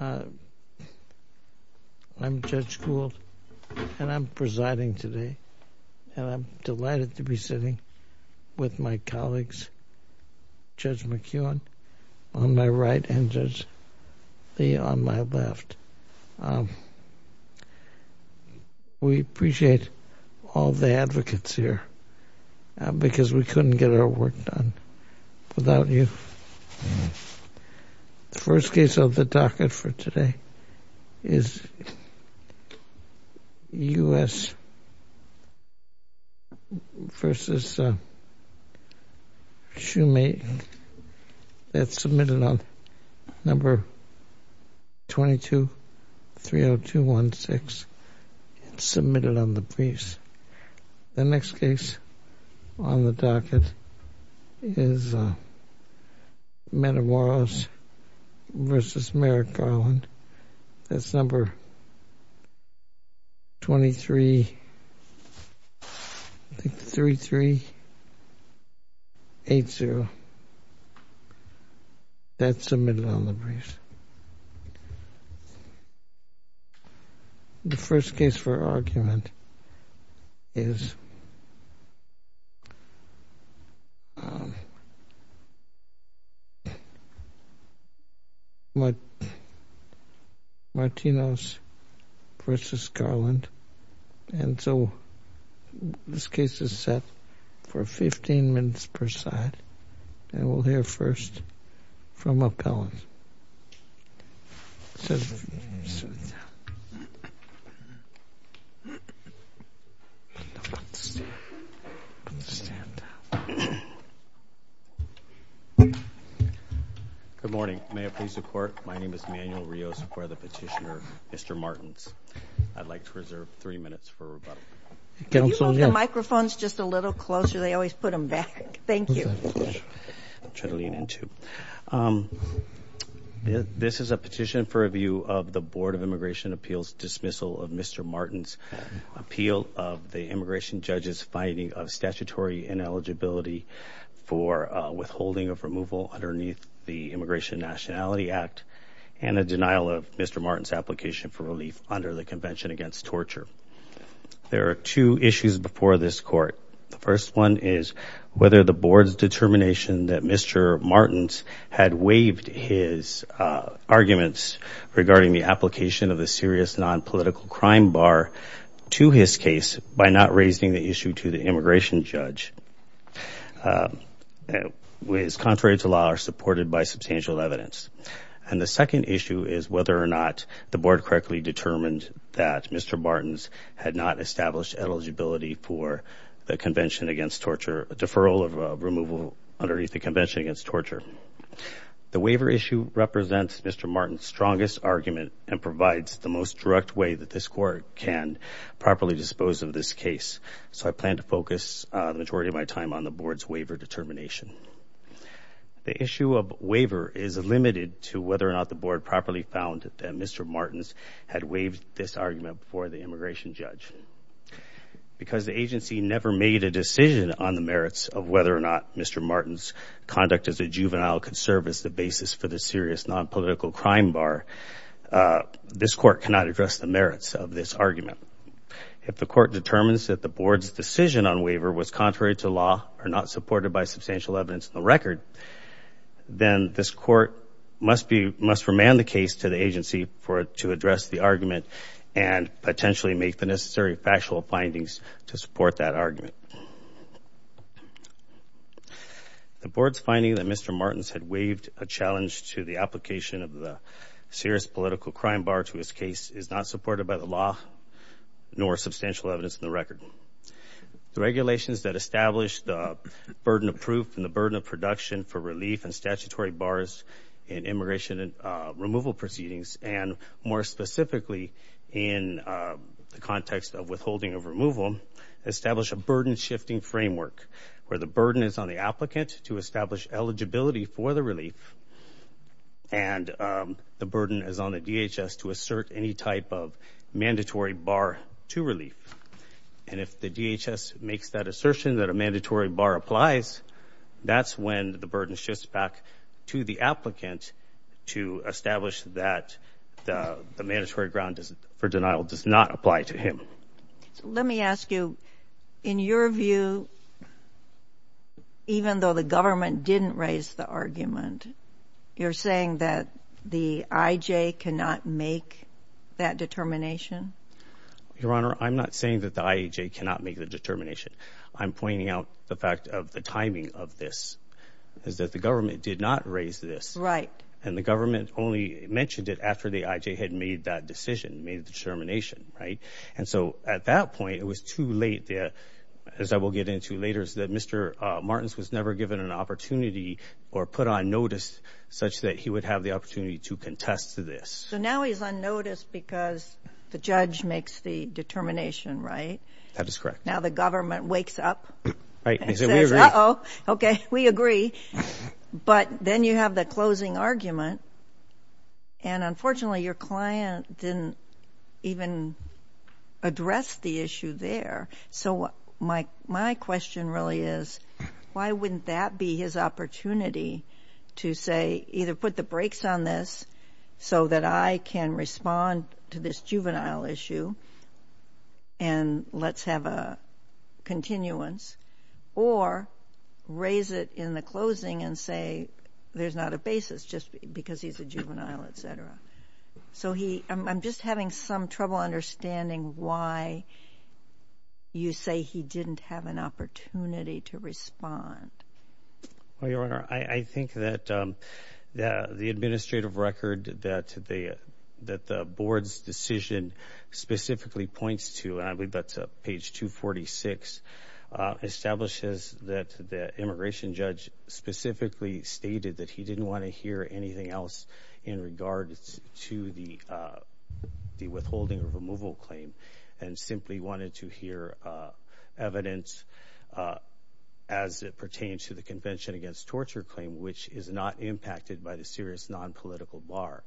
I'm Judge Gould, and I'm presiding today, and I'm delighted to be sitting with my colleagues, Judge McKeown on my right and Judge Lee on my left. We appreciate all the advocates here because we couldn't get our work done without you. The first case of the docket for today is U.S. v. Shoemake. That's submitted on number 22-30216. It's submitted on the briefs. The next case on the docket is Manamoros v. Merrick Garland. That's number 23-3380. That's submitted on the briefs. The first case for argument is Martinez v. Garland. And so this case is set for 15 minutes per side, and we'll hear first from appellants. Good morning. May it please the court, my name is Manuel Rios, I'm the petitioner, Mr. Martins. I'd like to reserve three minutes for rebuttal. Can you move the microphones just a little closer? They always put them back. Thank you. This is a petition for review of the Board of Immigration Appeals dismissal of Mr. Martins' appeal of the immigration judge's finding of statutory ineligibility for withholding of removal underneath the Immigration Nationality Act and a denial of Mr. Martins' application for relief under the Convention Against Torture. There are two issues before this court. The first one is whether the board's determination that Mr. Martins had waived his arguments regarding the application of a serious nonpolitical crime bar to his case by not raising the issue to the immigration judge is contrary to law or supported by substantial evidence. And the second issue is whether or not the board correctly determined that Mr. Martins had not established eligibility for the Convention Against Torture, a deferral of removal underneath the Convention Against Torture. The waiver issue represents Mr. Martins' strongest argument and provides the most direct way that this court can properly dispose of this case. So I plan to focus the majority of my time on the board's waiver determination. The issue of waiver is limited to whether or not the board properly found that Mr. Martins had waived this argument before the immigration judge. Because the agency never made a decision on the merits of whether or not Mr. Martins' conduct as a juvenile could serve as the basis for the serious nonpolitical crime bar, this court cannot address the merits of this argument. If the court determines that the board's decision on waiver was contrary to law or not supported by substantial evidence in the record, then this court must remand the case to the agency to address the argument and potentially make the necessary factual findings to support that argument. The board's finding that Mr. Martins had waived a challenge to the application of the serious political crime bar to his case is not supported by the law nor substantial evidence in the record. The regulations that establish the burden of proof and the burden of production for relief and statutory bars in immigration and removal proceedings, and more specifically in the context of withholding of removal, establish a burden-shifting framework where the burden is on the applicant to establish eligibility for the relief and the burden is on the DHS to assert any type of mandatory bar to relief. And if the DHS makes that assertion that a mandatory bar applies, that's when the burden shifts back to the applicant to establish that the mandatory ground for denial does not apply to him. Let me ask you, in your view, even though the government didn't raise the argument, you're saying that the IAJ cannot make that determination? Your Honor, I'm not saying that the IAJ cannot make the determination. I'm pointing out the fact of the timing of this, is that the government did not raise this. Right. And the government only mentioned it after the IAJ had made that decision, made the determination, right? And so at that point, it was too late, as I will get into later, that Mr. Martins was never given an opportunity or put on notice such that he would have the opportunity to contest this. So now he's on notice because the judge makes the determination, right? That is correct. Now the government wakes up and says, uh-oh, okay, we agree. But then you have the closing argument, and unfortunately your client didn't even address the issue there. So my question really is, why wouldn't that be his opportunity to say, either put the brakes on this so that I can respond to this juvenile issue and let's have a continuance, or raise it in the closing and say there's not a basis just because he's a juvenile, et cetera? So I'm just having some trouble understanding why you say he didn't have an opportunity to respond. Well, Your Honor, I think that the administrative record that the board's decision specifically points to, and I believe that's page 246, establishes that the immigration judge specifically stated that he didn't want to hear anything else in regards to the withholding or removal claim and simply wanted to hear evidence as it pertains to the Convention Against Torture claim, which is not impacted by the serious nonpolitical bar.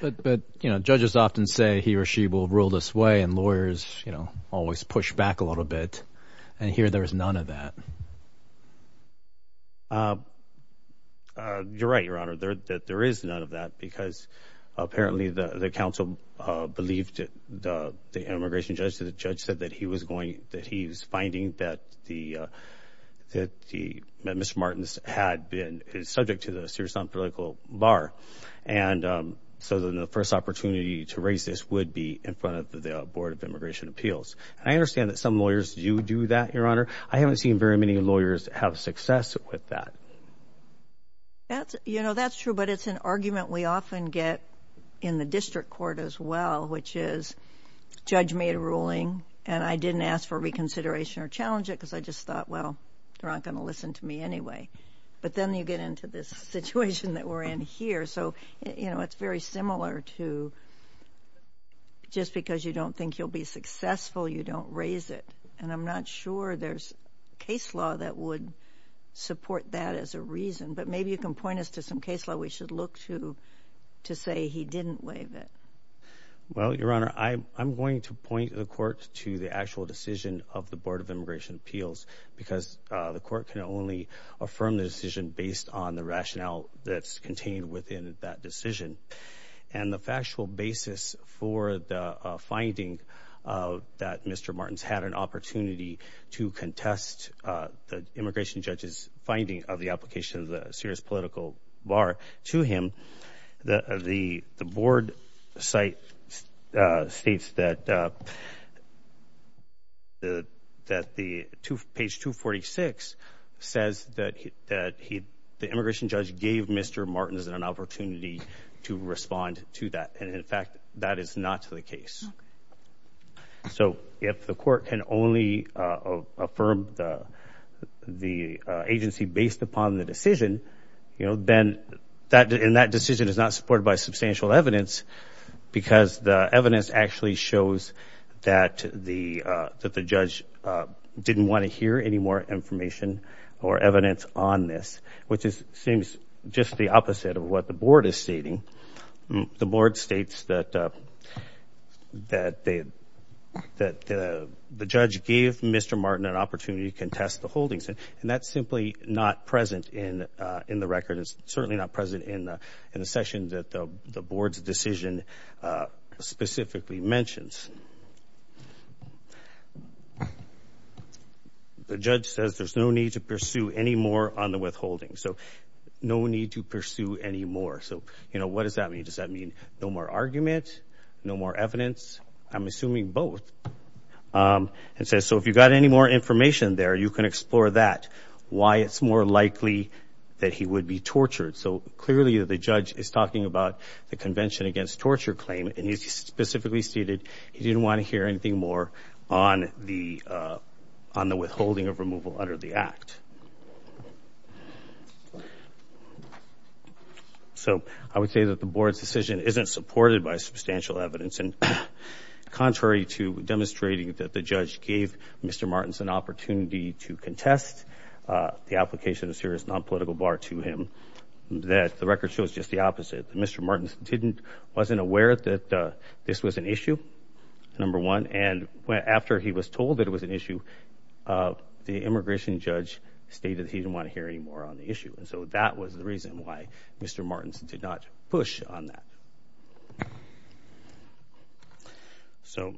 But judges often say he or she will rule this way, and lawyers always push back a little bit, and here there is none of that. You're right, Your Honor, that there is none of that because apparently the counsel believed that the immigration judge, the judge said that he was finding that Mr. Martins had been subject to the serious nonpolitical bar. And so the first opportunity to raise this would be in front of the Board of Immigration Appeals. And I understand that some lawyers do do that, Your Honor. I haven't seen very many lawyers have success with that. You know, that's true, but it's an argument we often get in the district court as well, which is judge made a ruling and I didn't ask for reconsideration or challenge it because I just thought, well, they're not going to listen to me anyway. But then you get into this situation that we're in here. So, you know, it's very similar to just because you don't think you'll be successful, you don't raise it. And I'm not sure there's case law that would support that as a reason, but maybe you can point us to some case law we should look to to say he didn't waive it. Well, Your Honor, I'm going to point the court to the actual decision of the Board of Immigration Appeals because the court can only affirm the decision based on the rationale that's contained within that decision. And the factual basis for the finding that Mr. Martin's had an opportunity to contest the immigration judge's finding of the application of the serious political bar to him, the board site states that the page 246 says that the immigration judge gave Mr. Martin an opportunity to respond to that. And, in fact, that is not the case. So if the court can only affirm the agency based upon the decision, you know, then that decision is not supported by substantial evidence because the evidence actually shows that the judge didn't want to hear any more information or evidence on this, which seems just the opposite of what the board is stating. The board states that the judge gave Mr. Martin an opportunity to contest the holdings, and that's simply not present in the record. It's certainly not present in the section that the board's decision specifically mentions. The judge says there's no need to pursue any more on the withholding. So no need to pursue any more. So, you know, what does that mean? Does that mean no more argument, no more evidence? I'm assuming both. It says, so if you've got any more information there, you can explore that, why it's more likely that he would be tortured. So clearly the judge is talking about the Convention Against Torture claim, and he specifically stated he didn't want to hear anything more on the withholding of removal under the act. So I would say that the board's decision isn't supported by substantial evidence, and contrary to demonstrating that the judge gave Mr. Martins an opportunity to contest the application of a serious nonpolitical bar to him, that the record shows just the opposite. Mr. Martins wasn't aware that this was an issue, number one, and after he was told that it was an issue, the immigration judge stated he didn't want to hear any more on the issue. So that was the reason why Mr. Martins did not push on that. So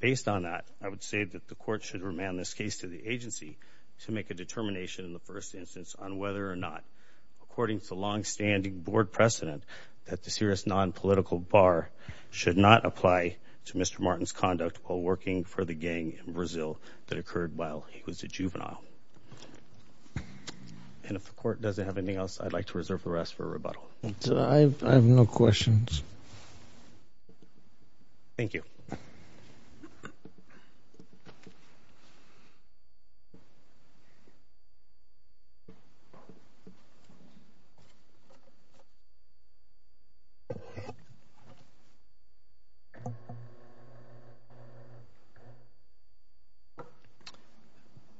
based on that, I would say that the court should remand this case to the agency to make a determination in the first instance on whether or not, according to the longstanding board precedent, that the serious nonpolitical bar should not apply to Mr. Martins' conduct while working for the gang in Brazil that occurred while he was a juvenile. And if the court doesn't have anything else, I'd like to reserve the rest for rebuttal. I have no questions. Thank you.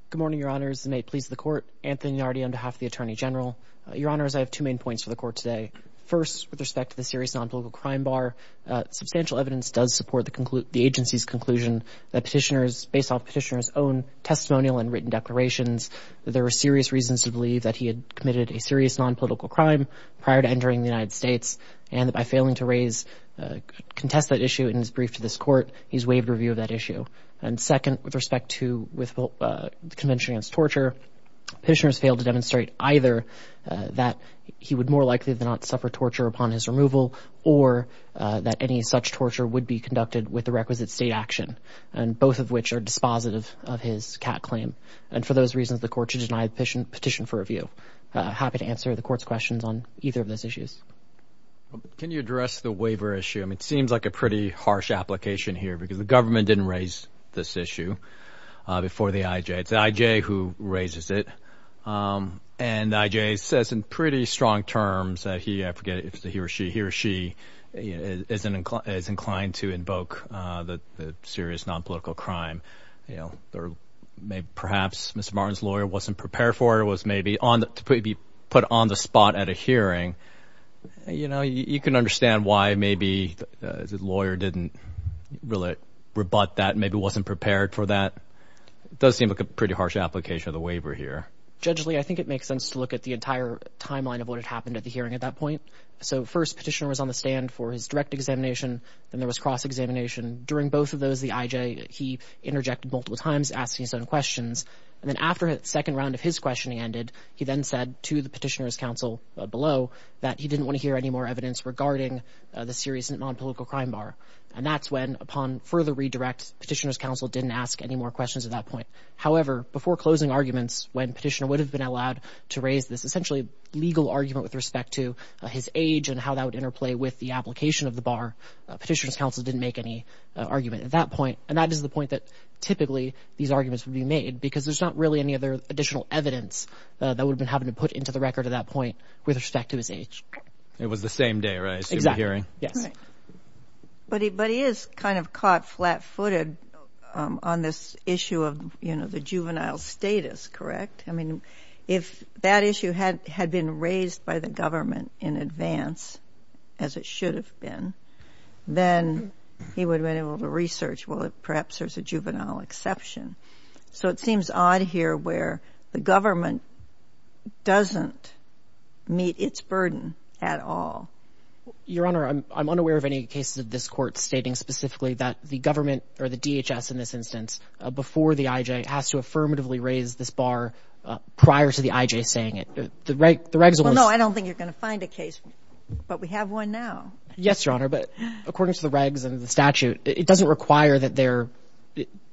Good morning, Your Honors, and may it please the Court. Anthony Nardi on behalf of the Attorney General. Your Honors, I have two main points for the Court today. First, with respect to the serious nonpolitical crime bar, substantial evidence does support the agency's conclusion that petitioners, based on petitioners' own testimonial and written declarations, that there were serious reasons to believe that he had committed a serious nonpolitical crime prior to entering the United States and that by failing to contest that issue in his brief to this Court, he's waived review of that issue. And second, with respect to the Convention Against Torture, petitioners failed to demonstrate either that he would more likely than not suffer torture upon his removal or that any such torture would be conducted with the requisite state action, both of which are dispositive of his CAT claim. And for those reasons, the Court should deny the petition for review. Happy to answer the Court's questions on either of those issues. Can you address the waiver issue? It seems like a pretty harsh application here because the government didn't raise this issue before the IJ. It's the IJ who raises it. And the IJ says in pretty strong terms that he, I forget if it's he or she, he or she is inclined to invoke the serious nonpolitical crime or perhaps Mr. Martin's lawyer wasn't prepared for it or was maybe put on the spot at a hearing. You know, you can understand why maybe the lawyer didn't really rebut that, maybe wasn't prepared for that. It does seem like a pretty harsh application of the waiver here. Judge Lee, I think it makes sense to look at the entire timeline of what had happened at the hearing at that point. So first, petitioner was on the stand for his direct examination. Then there was cross-examination. During both of those, the IJ, he interjected multiple times, asking his own questions. And then after the second round of his questioning ended, he then said to the petitioner's counsel below that he didn't want to hear any more evidence regarding the serious nonpolitical crime bar. And that's when, upon further redirect, petitioner's counsel didn't ask any more questions at that point. However, before closing arguments, when petitioner would have been allowed to raise this essentially legal argument with respect to his age and how that would interplay with the application of the bar, petitioner's counsel didn't make any argument at that point. And that is the point that typically these arguments would be made because there's not really any other additional evidence that would have been put into the record at that point with respect to his age. It was the same day, right? Yes. But he is kind of caught flat-footed on this issue of the juvenile status, correct? I mean, if that issue had been raised by the government in advance, as it should have been, then he would have been able to research, well, perhaps there's a juvenile exception. So it seems odd here where the government doesn't meet its burden at all. Your Honor, I'm unaware of any cases of this Court stating specifically that the government, or the DHS in this instance, before the I.J., has to affirmatively raise this bar prior to the I.J. saying it. The regularly... Well, no, I don't think you're going to find a case, but we have one now. Yes, Your Honor. But according to the regs and the statute, it doesn't require that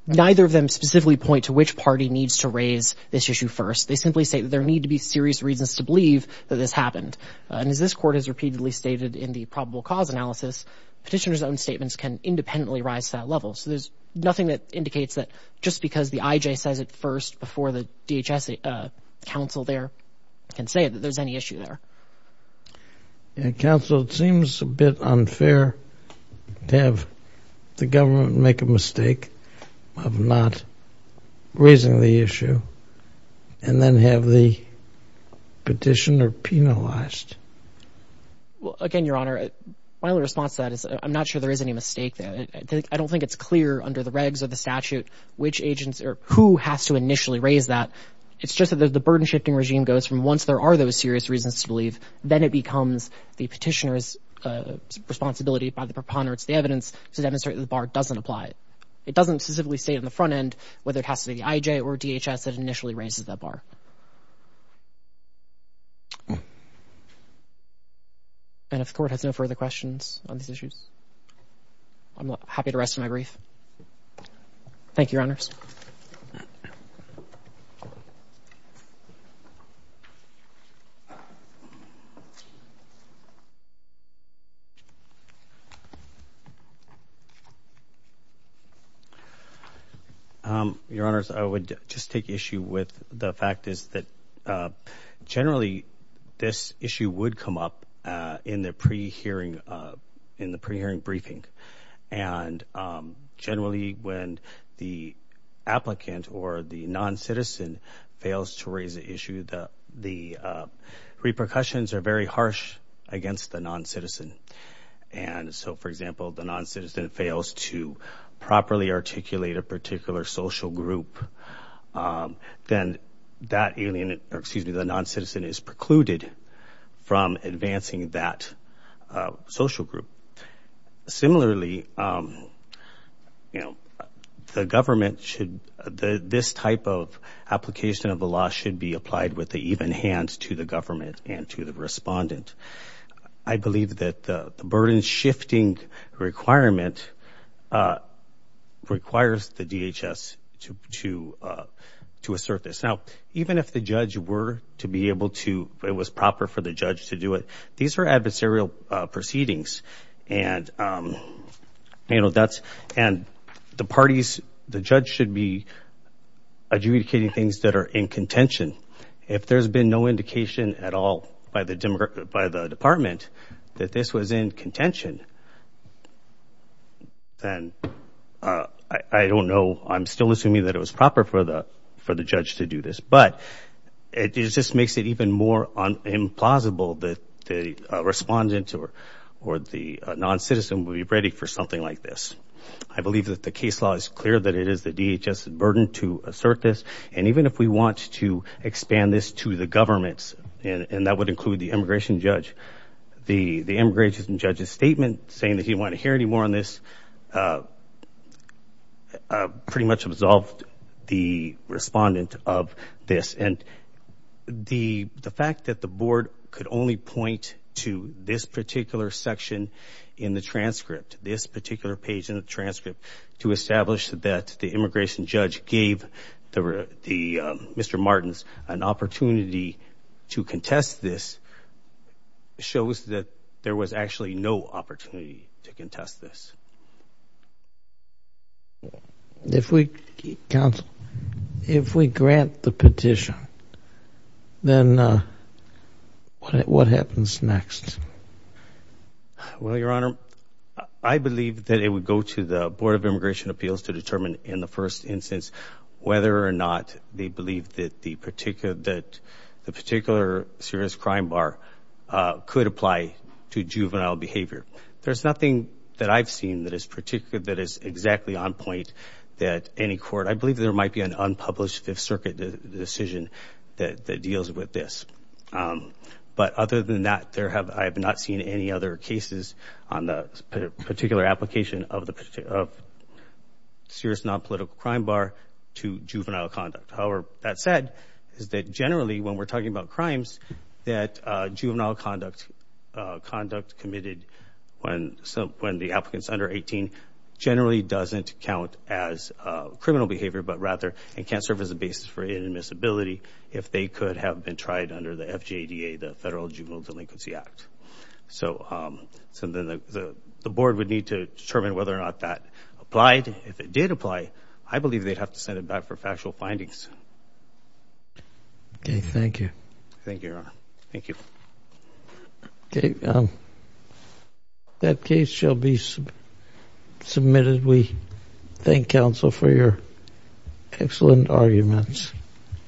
neither of them specifically point to which party needs to raise this issue first. They simply say that there need to be serious reasons to believe that this happened. And as this Court has repeatedly stated in the probable cause analysis, petitioner's own statements can independently rise to that level. So there's nothing that indicates that just because the I.J. says it first before the DHS counsel there can say that there's any issue there. Counsel, it seems a bit unfair to have the government make a mistake of not raising the issue and then have the petitioner penalized. Again, Your Honor, my response to that is I'm not sure there is any mistake there. I don't think it's clear under the regs or the statute which agents or who has to initially raise that. It's just that the burden-shifting regime goes from once there are those serious reasons to believe, then it becomes the petitioner's responsibility by the preponderance of the evidence to demonstrate that the bar doesn't apply. It doesn't specifically state on the front end whether it has to be the I.J. or DHS that initially raises that bar. And if the Court has no further questions on these issues, I'm happy to rest my brief. Thank you, Your Honors. Your Honors, I would just take issue with the fact is that generally this issue would come up in the pre-hearing briefing. And generally when the applicant or the non-citizen fails to raise the issue, the repercussions are very harsh against the non-citizen. And so, for example, the non-citizen fails to properly articulate a particular social group, then that non-citizen is precluded from advancing that social group. Similarly, this type of application of the law should be applied with the even hands to the government and to the respondent. I believe that the burden shifting requirement requires the DHS to assert this. Now, even if the judge were to be able to, it was proper for the judge to do it, these are adversarial proceedings. And the parties, the judge should be adjudicating things that are in contention. If there's been no indication at all by the department that this was in contention, then I don't know, I'm still assuming that it was proper for the judge to do this. But it just makes it even more implausible that the respondent or the non-citizen will be ready for something like this. I believe that the case law is clear that it is the DHS' burden to assert this. And even if we want to expand this to the governments, and that would include the immigration judge, the immigration judge's statement saying that he didn't want to hear any more on this pretty much absolved the respondent of this. And the fact that the board could only point to this particular section in the transcript, this particular page in the transcript to establish that the immigration judge gave Mr. Martins an opportunity to contest this shows that there was actually no opportunity to contest this. If we grant the petition, then what happens next? Well, Your Honor, I believe that it would go to the Board of Immigration Appeals to determine in the first instance whether or not they believe that the particular serious crime bar could apply to juvenile behavior. There's nothing that I've seen that is exactly on point that any court, I believe there might be an unpublished Fifth Circuit decision that deals with this. But other than that, I have not seen any other cases on the particular application of the serious nonpolitical crime bar to juvenile conduct. However, that said, is that generally when we're talking about crimes, that juvenile conduct, conduct committed when the applicant's under 18 generally doesn't count as criminal behavior, but rather it can serve as a basis for inadmissibility if they could have been tried under the FJDA, the Federal Juvenile Delinquency Act. So then the board would need to determine whether or not that applied. If it did apply, I believe they'd have to send it back for factual findings. Okay, thank you. Thank you, Your Honor. Thank you. Okay. That case shall be submitted. We thank counsel for your excellent arguments.